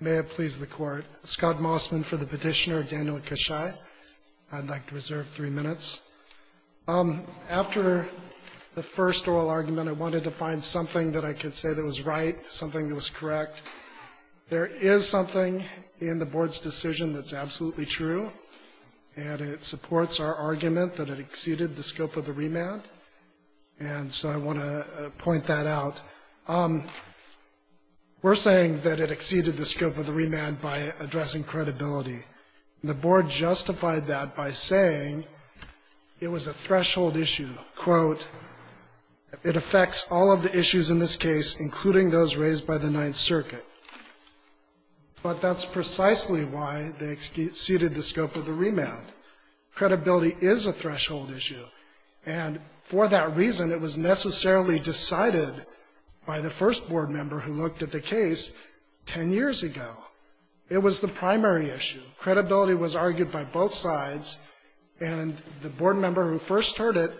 May it please the Court, Scott Mossman for the petitioner, Daniel Cachay, I'd like to reserve three minutes. After the first oral argument, I wanted to find something that I could say that was right, something that was correct. There is something in the board's decision that's absolutely true, and it supports our argument that it exceeded the scope of the remand. And so I want to point that out. We're saying that it exceeded the scope of the remand by addressing credibility. And the board justified that by saying it was a threshold issue. Quote, it affects all of the issues in this case, including those raised by the Ninth Circuit. But that's precisely why they exceeded the scope of the remand. Credibility is a threshold issue. And for that reason, it was necessarily decided by the first board member who looked at the case ten years ago. It was the primary issue. Credibility was argued by both sides, and the board member who first heard it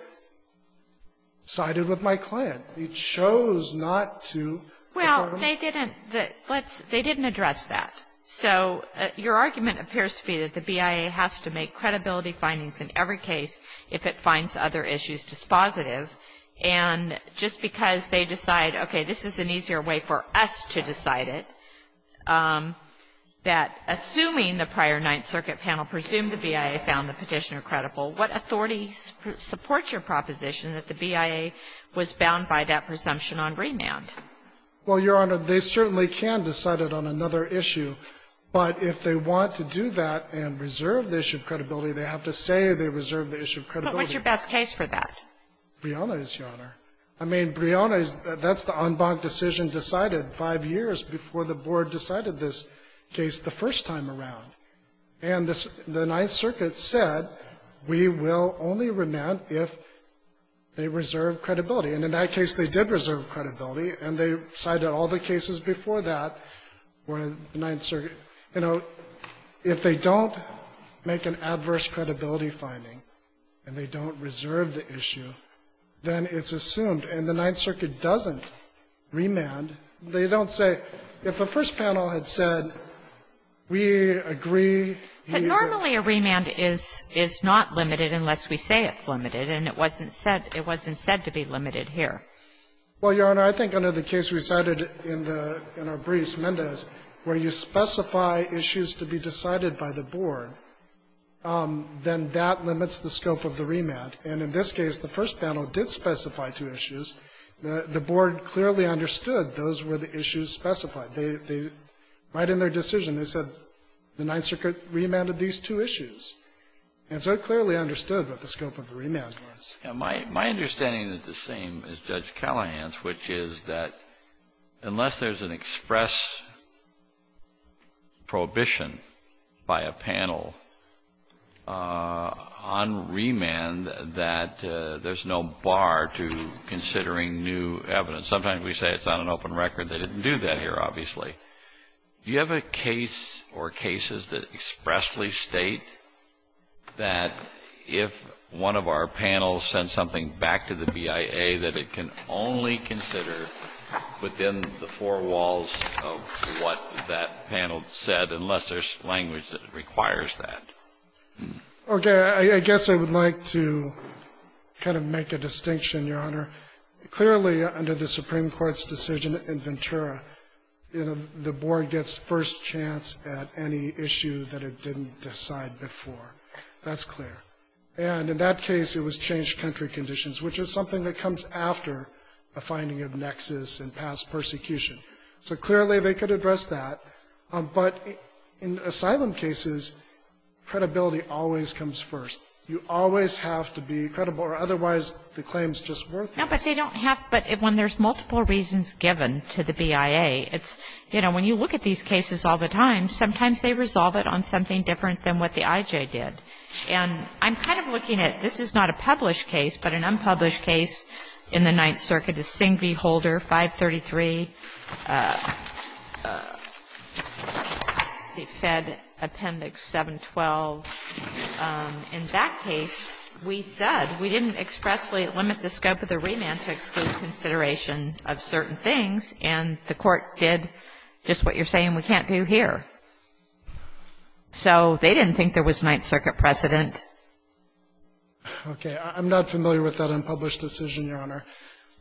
sided with my client. He chose not to. Well, they didn't address that. So your argument appears to be that the BIA has to make credibility findings in every case if it finds other issues dispositive. And just because they decide, okay, this is an easier way for us to decide it, that assuming the prior Ninth Circuit panel presumed the BIA found the Petitioner credible, what authority supports your proposition that the BIA was bound by that presumption on remand? Well, Your Honor, they certainly can decide it on another issue. But if they want to do that and reserve the issue of credibility, they have to say they reserve the issue of credibility. But what's your best case for that? Brianna is, Your Honor. I mean, Brianna is the unbonked decision decided five years before the board decided this case the first time around. And the Ninth Circuit said we will only remand if they reserve credibility. And in that case, they did reserve credibility. And they cited all the cases before that where the Ninth Circuit, you know, if they don't make an adverse credibility finding and they don't reserve the issue, then it's assumed. And the Ninth Circuit doesn't remand. They don't say if the first panel had said we agree. But normally a remand is not limited unless we say it's limited, and it wasn't said to be limited here. Well, Your Honor, I think under the case we cited in our briefs, Mendez, where you specify issues to be decided by the board, then that limits the scope of the remand. And in this case, the first panel did specify two issues. The board clearly understood those were the issues specified. They, right in their decision, they said the Ninth Circuit remanded these two issues. And so it clearly understood what the scope of the remand was. And my understanding is the same as Judge Callahan's, which is that unless there's an express prohibition by a panel on remand that there's no bar to considering new evidence. Sometimes we say it's on an open record. They didn't do that here, obviously. Do you have a case or cases that expressly state that if one of our panels sends something back to the BIA that it can only consider within the four walls of what that panel said, unless there's language that requires that? Okay. I guess I would like to kind of make a distinction, Your Honor. Clearly, under the Supreme Court's decision in Ventura, the board gets first chance at any issue that it didn't decide before. That's clear. And in that case, it was changed country conditions, which is something that comes after a finding of nexus and past persecution. So clearly, they could address that. But in asylum cases, credibility always comes first. You always have to be credible, or otherwise the claim's just worthless. No, but they don't have to. But when there's multiple reasons given to the BIA, it's, you know, when you look at these cases all the time, sometimes they resolve it on something different than what the IJ did. And I'm kind of looking at this is not a published case, but an unpublished case in the Ninth Circuit, the Singh v. Holder, 533, the Fed Appendix 712. In that case, we said we didn't expressly limit the scope of the remand to exclude consideration of certain things. And the Court did just what you're saying we can't do here. So they didn't think there was Ninth Circuit precedent. Okay. I'm not familiar with that unpublished decision, Your Honor.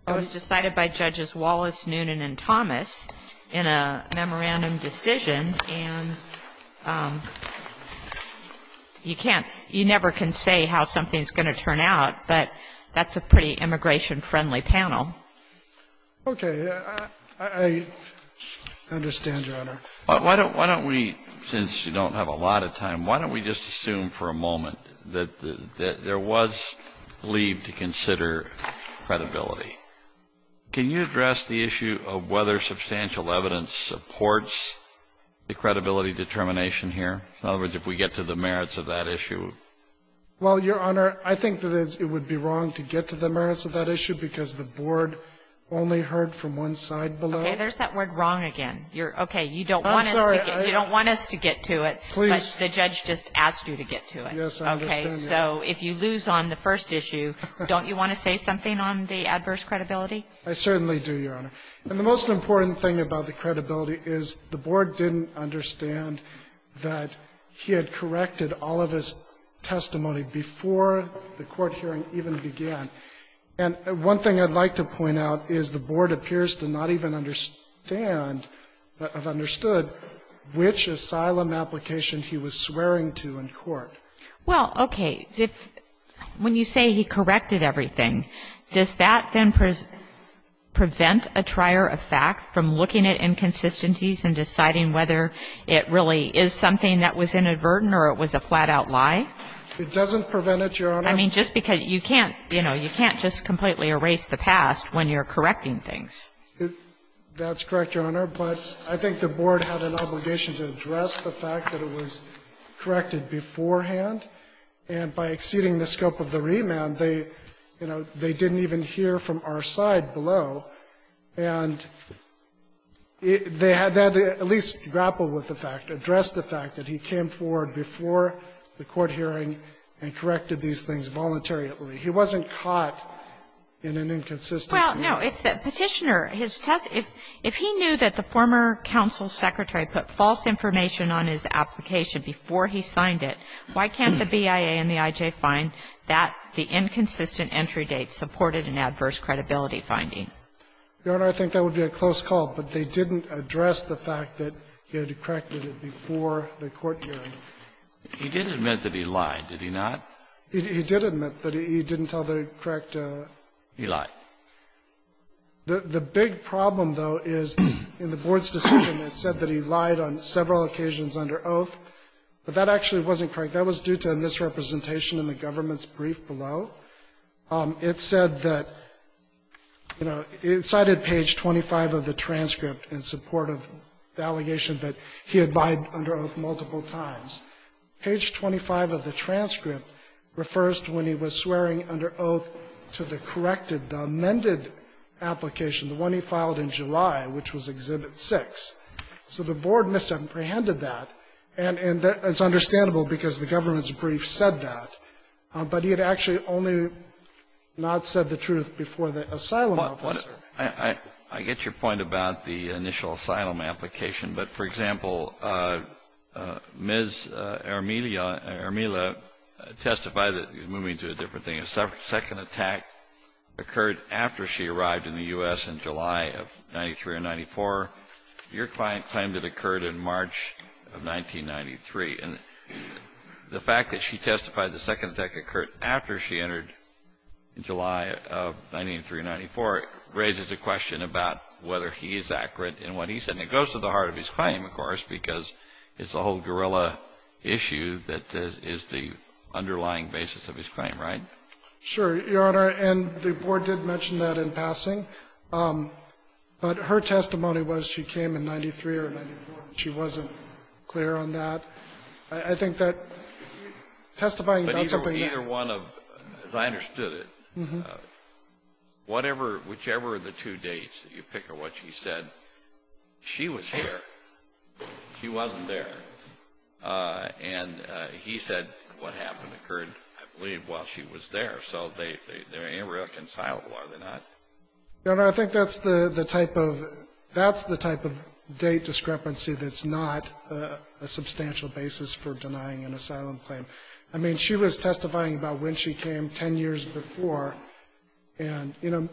It was decided by Judges Wallace, Noonan, and Thomas in a memorandum decision. And you can't, you never can say how something's going to turn out, but that's a pretty immigration-friendly panel. I understand, Your Honor. Why don't we, since we don't have a lot of time, why don't we just assume for a moment that there was leave to consider credibility. Can you address the issue of whether substantial evidence supports the credibility determination here? In other words, if we get to the merits of that issue? Well, Your Honor, I think that it would be wrong to get to the merits of that issue because the board only heard from one side below. Okay. There's that word wrong again. Okay. You don't want us to get to it. Please. But the judge just asked you to get to it. Yes, I understand that. Okay. So if you lose on the first issue, don't you want to say something on the adverse credibility? I certainly do, Your Honor. And the most important thing about the credibility is the board didn't understand that he had corrected all of his testimony before the court hearing even began. And one thing I'd like to point out is the board appears to not even understand Well, okay. When you say he corrected everything, does that then prevent a trier of fact from looking at inconsistencies and deciding whether it really is something that was inadvertent or it was a flat-out lie? It doesn't prevent it, Your Honor. I mean, just because you can't, you know, you can't just completely erase the past when you're correcting things. That's correct, Your Honor. But I think the board had an obligation to address the fact that it was corrected beforehand. And by exceeding the scope of the remand, they, you know, they didn't even hear from our side below. And they had to at least grapple with the fact, address the fact that he came forward before the court hearing and corrected these things voluntarily. He wasn't caught in an inconsistency. No. If the Petitioner, his testimony, if he knew that the former counsel's secretary put false information on his application before he signed it, why can't the BIA and the IJ find that the inconsistent entry date supported an adverse credibility finding? Your Honor, I think that would be a close call. But they didn't address the fact that he had corrected it before the court hearing. He did admit that he lied, did he not? He did admit that he didn't tell the correct. He lied. The big problem, though, is in the board's decision, it said that he lied on several occasions under oath. But that actually wasn't correct. That was due to a misrepresentation in the government's brief below. It said that, you know, it cited page 25 of the transcript in support of the allegation that he had lied under oath multiple times. Page 25 of the transcript refers to when he was swearing under oath to the corrected amended application, the one he filed in July, which was Exhibit 6. So the board misapprehended that. And it's understandable because the government's brief said that. But he had actually only not said the truth before the asylum officer. I get your point about the initial asylum application. But, for example, Ms. Armilla testified that he was moving to a different thing. The second attack occurred after she arrived in the U.S. in July of 1993 or 1994. Your client claimed it occurred in March of 1993. And the fact that she testified the second attack occurred after she entered in July of 1993 or 1994 raises a question about whether he is accurate in what he said. And it goes to the heart of his claim, of course, because it's a whole guerrilla issue that is the underlying basis of his claim, right? Sure, Your Honor. And the board did mention that in passing. But her testimony was she came in 1993 or 1994, and she wasn't clear on that. I think that testifying about something that was not clear was not clear. But either one of them, as I understood it, whatever, whichever of the two dates that you pick of what she said, she was here. She wasn't there. And he said what happened occurred, I believe, while she was there. So they're irreconcilable, are they not? Your Honor, I think that's the type of date discrepancy that's not a substantial basis for denying an asylum claim. I mean, she was testifying about when she came 10 years before. And, you know,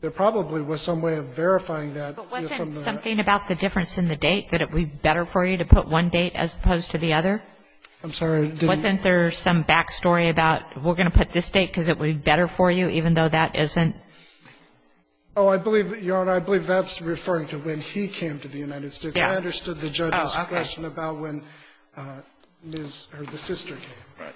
there probably was some way of verifying that. But wasn't something about the difference in the date that it would be better for you to put one date as opposed to the other? I'm sorry. Wasn't there some back story about we're going to put this date because it would be better for you even though that isn't? Oh, I believe that, Your Honor, I believe that's referring to when he came to the United States. I understood the judge's question about when Ms. or the sister came. Right.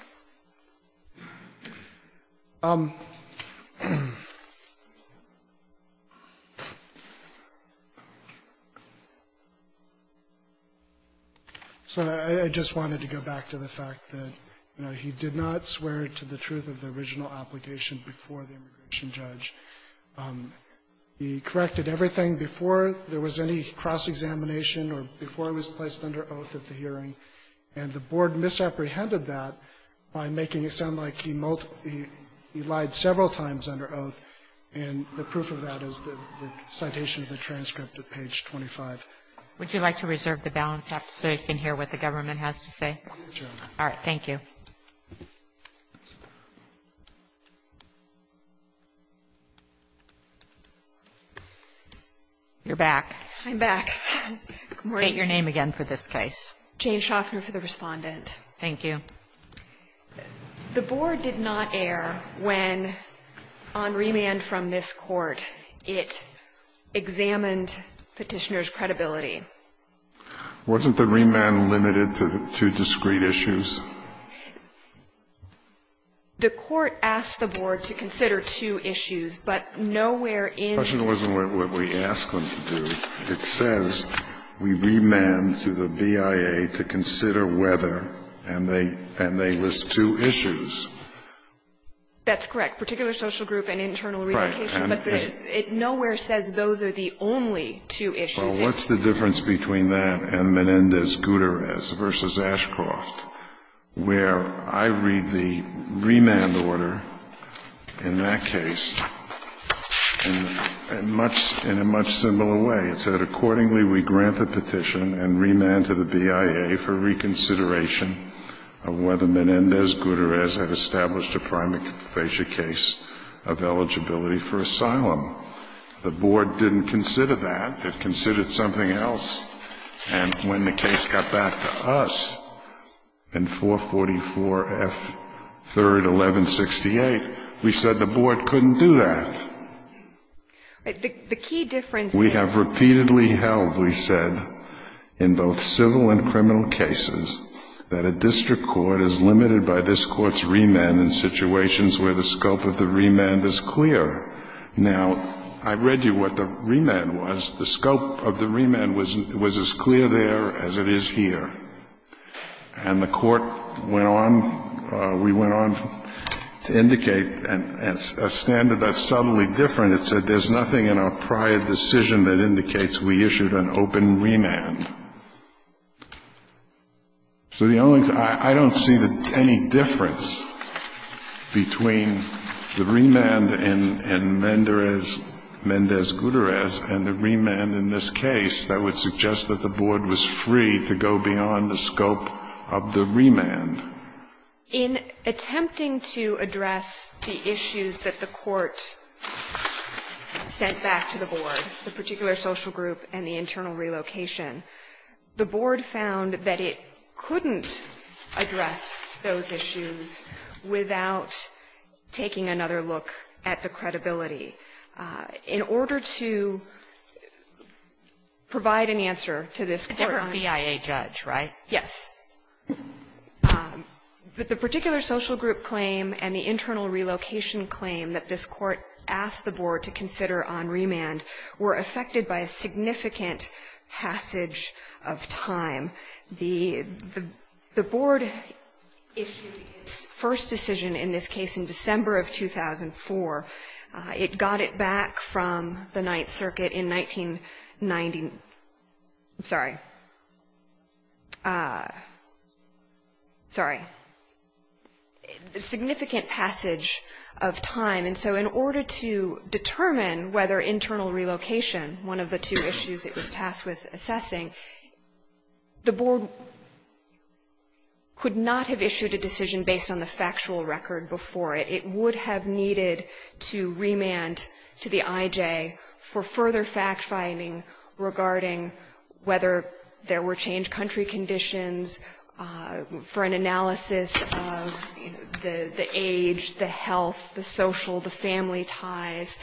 So I just wanted to go back to the fact that, you know, he did not swear to the truth of the original application before the immigration judge. He corrected everything before there was any cross-examination or before it was placed under oath at the hearing, and the Board misapprehended that by making it clear that he was not making it sound like he lied several times under oath. And the proof of that is the citation of the transcript at page 25. Would you like to reserve the balance so you can hear what the government has to say? Yes, Your Honor. All right. Thank you. You're back. I'm back. Good morning. State your name again for this case. Jane Shoffner for the respondent. Thank you. The Board did not err when, on remand from this Court, it examined Petitioner's credibility. Wasn't the remand limited to two discreet issues? The Court asked the Board to consider two issues, but nowhere in the question wasn't what we asked them to do. It says we remand through the BIA to consider whether, and they list two issues. That's correct. Particular social group and internal relocation. Right. But nowhere says those are the only two issues. Well, what's the difference between that and Menendez-Guterres v. Ashcroft, where I read the remand order in that case in a much simpler way. It said, accordingly, we grant the petition and remand to the BIA for reconsideration of whether Menendez-Guterres had established a prima facie case of eligibility for asylum. The Board didn't consider that. It considered something else. And when the case got back to us in 444 F. 3rd, 1168, we said the Board couldn't do that. The key difference is we have repeatedly held, we said, in both civil and criminal cases, that a district court is limited by this Court's remand in situations where the scope of the remand is clear. Now, I read you what the remand was. The scope of the remand was as clear there as it is here. And the Court went on, we went on to indicate a standard that's subtly different. It said, there's nothing in our prior decision that indicates we issued an open remand. So the only thing, I don't see any difference between the remand in Menendez-Guterres and the remand in this case that would suggest that the Board was free to go beyond the scope of the remand. In attempting to address the issues that the Court sent back to the Board, the particular social group and the internal relocation, the Board found that it couldn't address those issues without taking another look at the credibility. In order to provide an answer to this Court's question. Sotomayor, a different BIA judge, right? Yes. The particular social group claim and the internal relocation claim that this Court asked the Board to consider on remand were affected by a significant passage of time. The Board issued its first decision in this case in December of 2004. It got it back from the Ninth Circuit in 1990. I'm sorry. Sorry. A significant passage of time. And so in order to determine whether internal relocation, one of the two issues it was tasked with assessing, the Board could not have issued a decision based on the factual record before it. It would have needed to remand to the IJ for further fact-finding regarding whether there were changed country conditions for an analysis of the age, the health, the social, the family ties,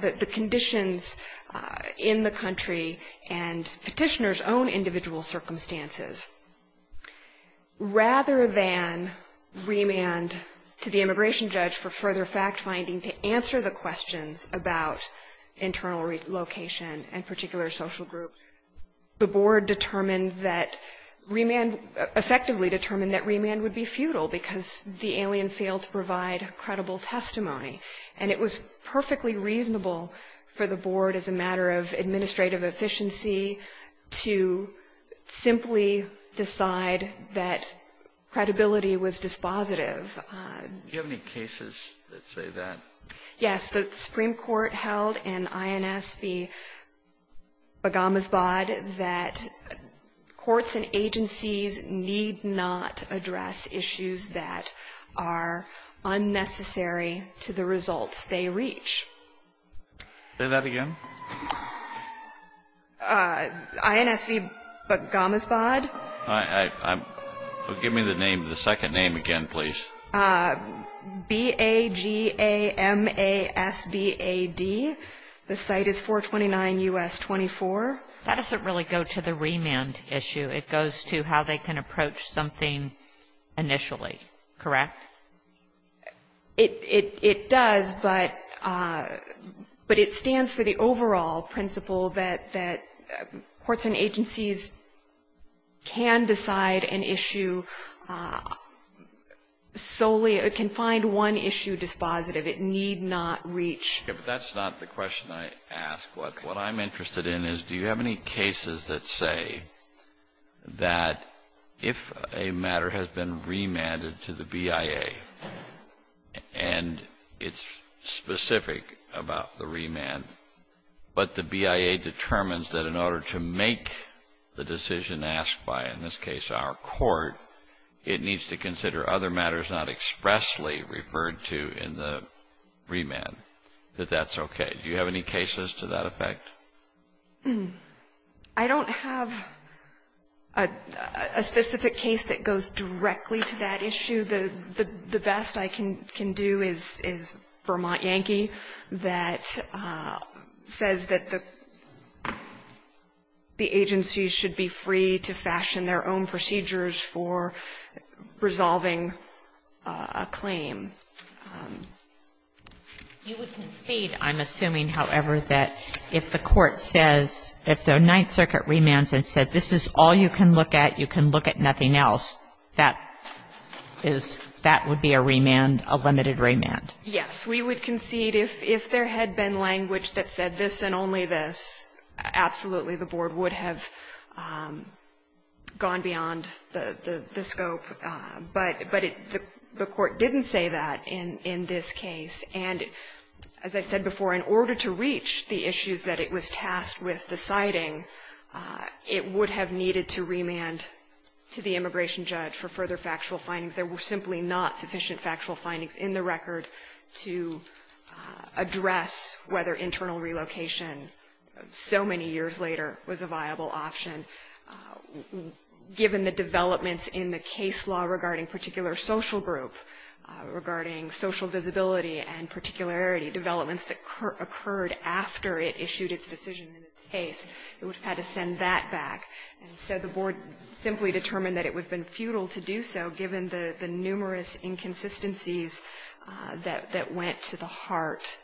the conditions in the country, and petitioner's own individual circumstances. Rather than remand to the immigration judge for further fact-finding to answer the questions about internal relocation and particular social group, the Board determined that remand, effectively determined that remand would be futile because the alien failed to provide credible testimony. And it was perfectly reasonable for the Board, as a matter of administrative efficiency, to simply decide that credibility was dispositive. Do you have any cases that say that? Yes. The Supreme Court held in INS v. Bagamasbad that courts and agencies need not address issues that are unnecessary to the results they reach. Say that again? INS v. Bagamasbad. Give me the second name again, please. B-A-G-A-M-A-S-B-A-D. The site is 429 U.S. 24. That doesn't really go to the remand issue. It goes to how they can approach something initially, correct? It does, but it stands for the overall principle that courts and agencies can decide an issue solely, can find one issue dispositive. It need not reach. But that's not the question I asked. What I'm interested in is do you have any cases that say that if a matter has been remanded to the BIA and it's specific about the remand, but the BIA determines that in order to make the decision asked by, in this case, our court, it needs to consider other matters not expressly referred to in the remand, that that's okay. Do you have any cases to that effect? I don't have a specific case that goes directly to that issue. The best I can do is Vermont Yankee that says that the agency should be free to fashion You would concede, I'm assuming, however, that if the court says, if the Ninth Circuit remands and says this is all you can look at, you can look at nothing else, that is that would be a remand, a limited remand? Yes. We would concede if there had been language that said this and only this, absolutely the board would have gone beyond the scope. But the court didn't say that in this case. And as I said before, in order to reach the issues that it was tasked with deciding, it would have needed to remand to the immigration judge for further factual findings. There were simply not sufficient factual findings in the record to address whether internal relocation so many years later was a viable option. Given the developments in the case law regarding particular social group, regarding social visibility and particularity, developments that occurred after it issued its decision in this case, it would have had to send that back. And so the board simply determined that it would have been futile to do so given the numerous inconsistencies that went to the heart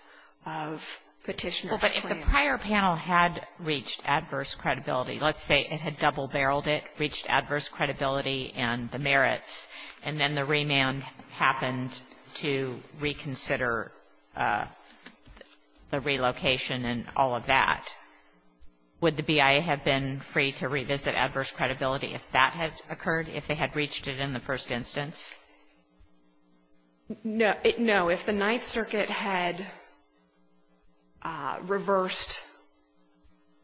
of Petitioner's claim. If the prior panel had reached adverse credibility, let's say it had double-barreled it, reached adverse credibility and the merits, and then the remand happened to reconsider the relocation and all of that, would the BIA have been free to revisit adverse credibility if that had occurred, if they had reached it in the first instance? No. If the Ninth Circuit had reversed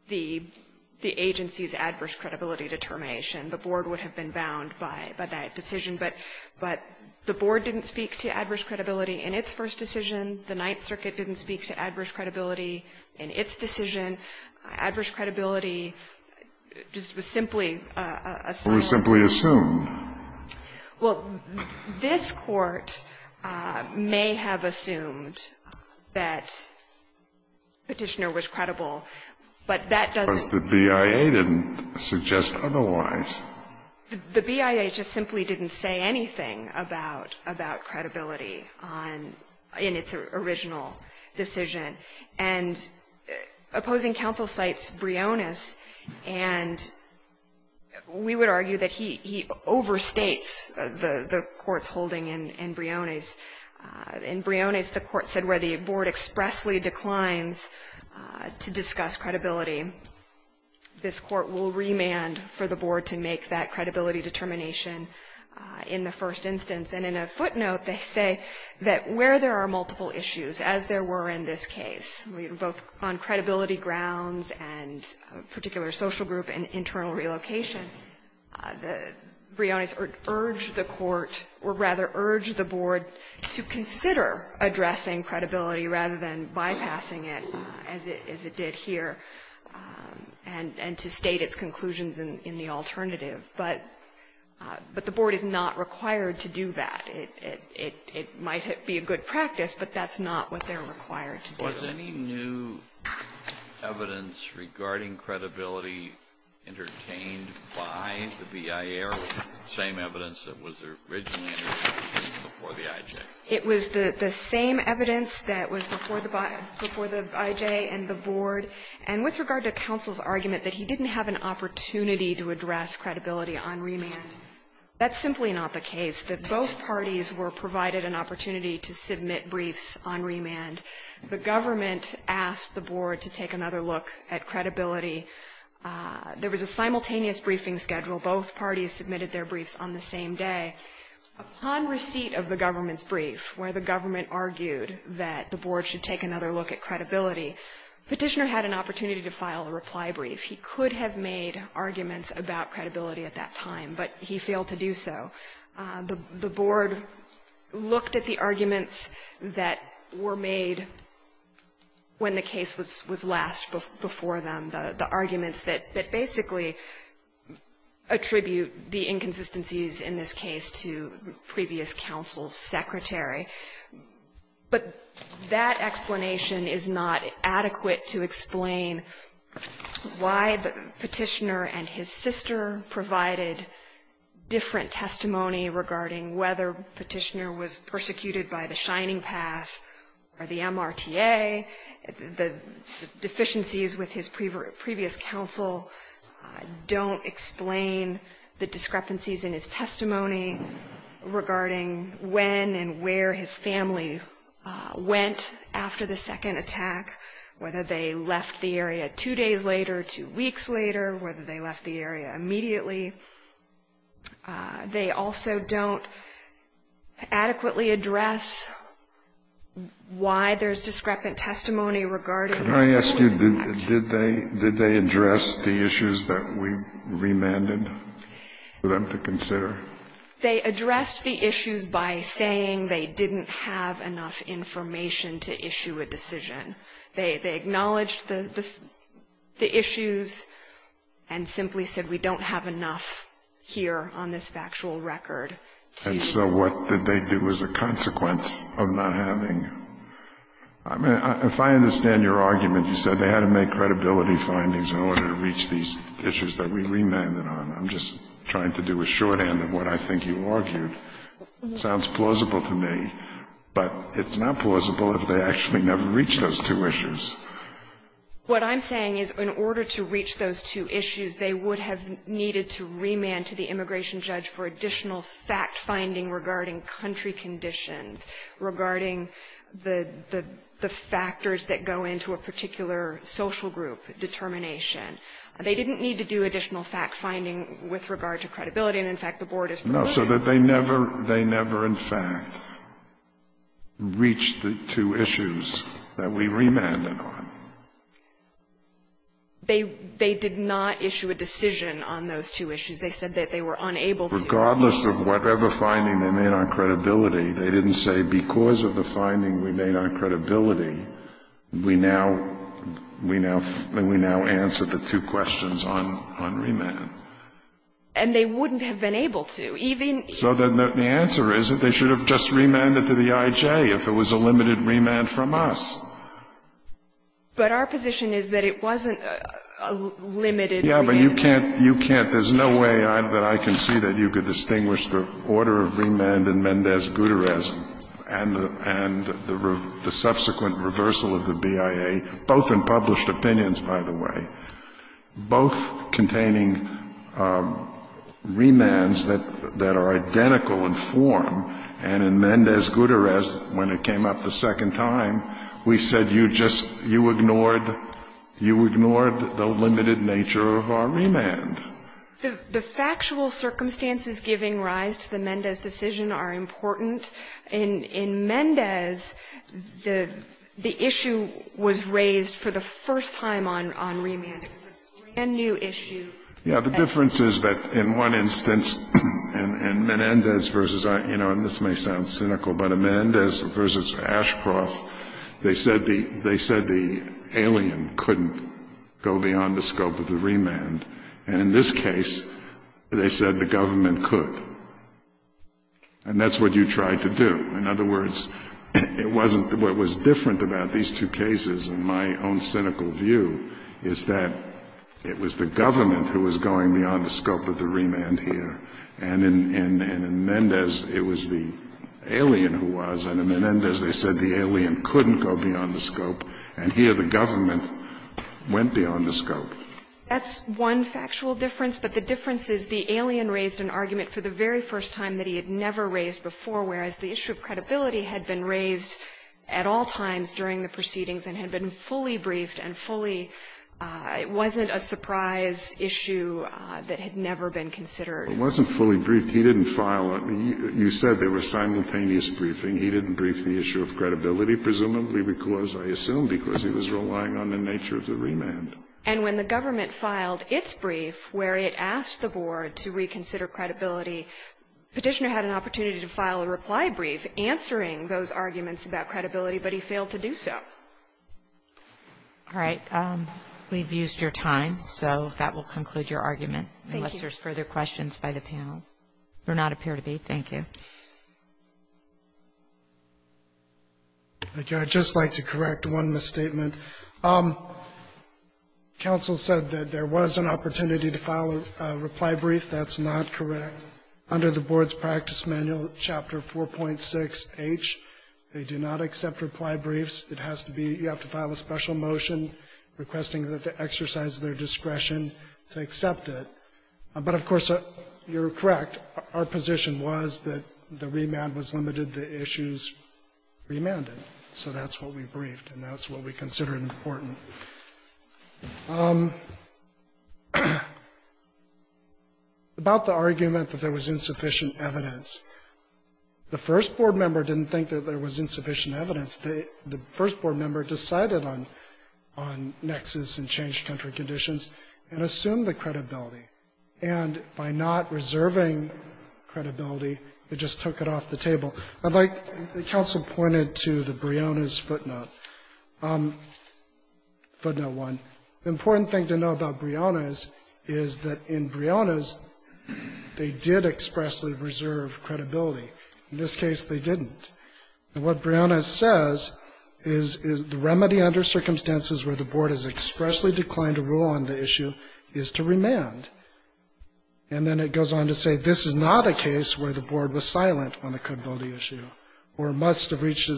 the agency's adverse credibility determination, the board would have been bound by that decision. But the board didn't speak to adverse credibility in its first decision. The Ninth Circuit didn't speak to adverse credibility in its decision. Adverse credibility just was simply a silo. It was simply assumed. Well, this Court may have assumed that Petitioner was credible, but that doesn't Because the BIA didn't suggest otherwise. The BIA just simply didn't say anything about credibility in its original decision. And opposing counsel cites Briones, and we would argue that he overstates the court's holding in Briones. In Briones, the court said where the board expressly declines to discuss credibility, this court will remand for the board to make that credibility determination in the first instance. And in a footnote, they say that where there are multiple issues, as there were in this case, both on credibility grounds and a particular social group and internal relocation, Briones urged the court or rather urged the board to consider addressing credibility rather than bypassing it as it did here and to state its conclusions in the alternative. But the board is not required to do that. It might be a good practice, but that's not what they're required to do. Was any new evidence regarding credibility entertained by the BIA or the same evidence that was originally entertained before the IJ? It was the same evidence that was before the IJ and the board. And with regard to counsel's argument that he didn't have an opportunity to address credibility on remand, that's simply not the case, that both parties were provided an opportunity to submit briefs on remand. The government asked the board to take another look at credibility. There was a simultaneous briefing schedule. Both parties submitted their briefs on the same day. Upon receipt of the government's brief where the government argued that the board should take another look at credibility, Petitioner had an opportunity to file a reply brief. He could have made arguments about credibility at that time, but he failed to do so. The board looked at the arguments that were made when the case was last before them, the arguments that basically attribute the inconsistencies in this case to previous counsel's secretary. But that explanation is not adequate to explain why Petitioner and his sister provided different testimony regarding whether Petitioner was persecuted by the Shining Path or the MRTA. The deficiencies with his previous counsel don't explain the discrepancies in his testimony regarding when and where his family went after the second attack, whether they left the area two days later, two weeks later, whether they left the area immediately. They also don't adequately address why there's discrepant testimony regarding that. Can I ask you, did they address the issues that we remanded them to consider? They addressed the issues by saying they didn't have enough information to issue a decision. They acknowledged the issues and simply said we don't have enough here on this factual record. And so what did they do as a consequence of not having? I mean, if I understand your argument, you said they had to make credibility findings in order to reach these issues that we remanded on. I'm just trying to do a shorthand of what I think you argued. It sounds plausible to me, but it's not plausible if they actually never reached those two issues. What I'm saying is in order to reach those two issues, they would have needed to remand to the immigration judge for additional fact-finding regarding country conditions, regarding the factors that go into a particular social group determination. They didn't need to do additional fact-finding with regard to credibility, and, in fact, the Board has proven that. No, so that they never in fact reached the two issues that we remanded on. They did not issue a decision on those two issues. They said that they were unable to. Regardless of whatever finding they made on credibility, they didn't say, because of the finding we made on credibility, we now answer the two questions on remand. And they wouldn't have been able to. So then the answer is that they should have just remanded to the I.J. if it was a limited remand from us. But our position is that it wasn't a limited remand. There's no way that I can see that you could distinguish the order of remand in Mendez-Guterres and the subsequent reversal of the BIA, both in published opinions, by the way, both containing remands that are identical in form. And in Mendez-Guterres, when it came up the second time, we said, you just, you ignored, you ignored the limited nature of our remand. The factual circumstances giving rise to the Mendez decision are important. In Mendez, the issue was raised for the first time on remand. It was a brand-new issue. Yeah, the difference is that in one instance, in Menendez versus, you know, this may sound cynical, but in Mendez versus Ashcroft, they said the alien couldn't go beyond the scope of the remand. And in this case, they said the government could. And that's what you tried to do. In other words, it wasn't what was different about these two cases, in my own cynical view, is that it was the government who was going beyond the scope of the remand here. And in Mendez, it was the alien who was. And in Mendez, they said the alien couldn't go beyond the scope. And here, the government went beyond the scope. That's one factual difference. But the difference is the alien raised an argument for the very first time that he had never raised before, whereas the issue of credibility had been raised at all times during the proceedings and had been fully briefed and fully – it wasn't a surprise issue that had never been considered. It wasn't fully briefed. He didn't file it. You said there was simultaneous briefing. He didn't brief the issue of credibility, presumably because, I assume, because he was relying on the nature of the remand. And when the government filed its brief where it asked the board to reconsider credibility, Petitioner had an opportunity to file a reply brief answering those arguments about credibility, but he failed to do so. All right. We've used your time, so that will conclude your argument. Thank you. If there are no further questions by the panel, there do not appear to be. Thank you. Thank you. I'd just like to correct one misstatement. Counsel said that there was an opportunity to file a reply brief. That's not correct. Under the board's practice manual, Chapter 4.6H, they do not accept reply briefs. It has to be – you have to file a special motion requesting that they exercise their But, of course, you're correct. Our position was that the remand was limited, the issues remanded. So that's what we briefed, and that's what we consider important. About the argument that there was insufficient evidence. The first board member didn't think that there was insufficient evidence. The first board member decided on nexus and changed country conditions and assumed the credibility, and by not reserving credibility, it just took it off the table. I'd like – the counsel pointed to the Brionas footnote, footnote 1. The important thing to know about Brionas is that in Brionas, they did expressly reserve credibility. In this case, they didn't. And what Brionas says is the remedy under circumstances where the board has And then it goes on to say, this is not a case where the board was silent on the credibility issue or must have reached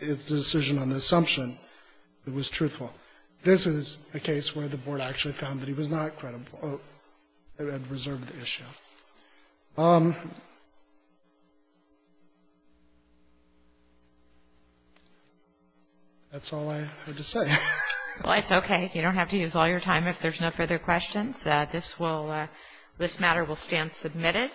its decision on the assumption it was truthful. This is a case where the board actually found that he was not credible and reserved the issue. That's all I had to say. Well, it's okay. You don't have to use all your time if there's no further questions. This matter will stand submitted.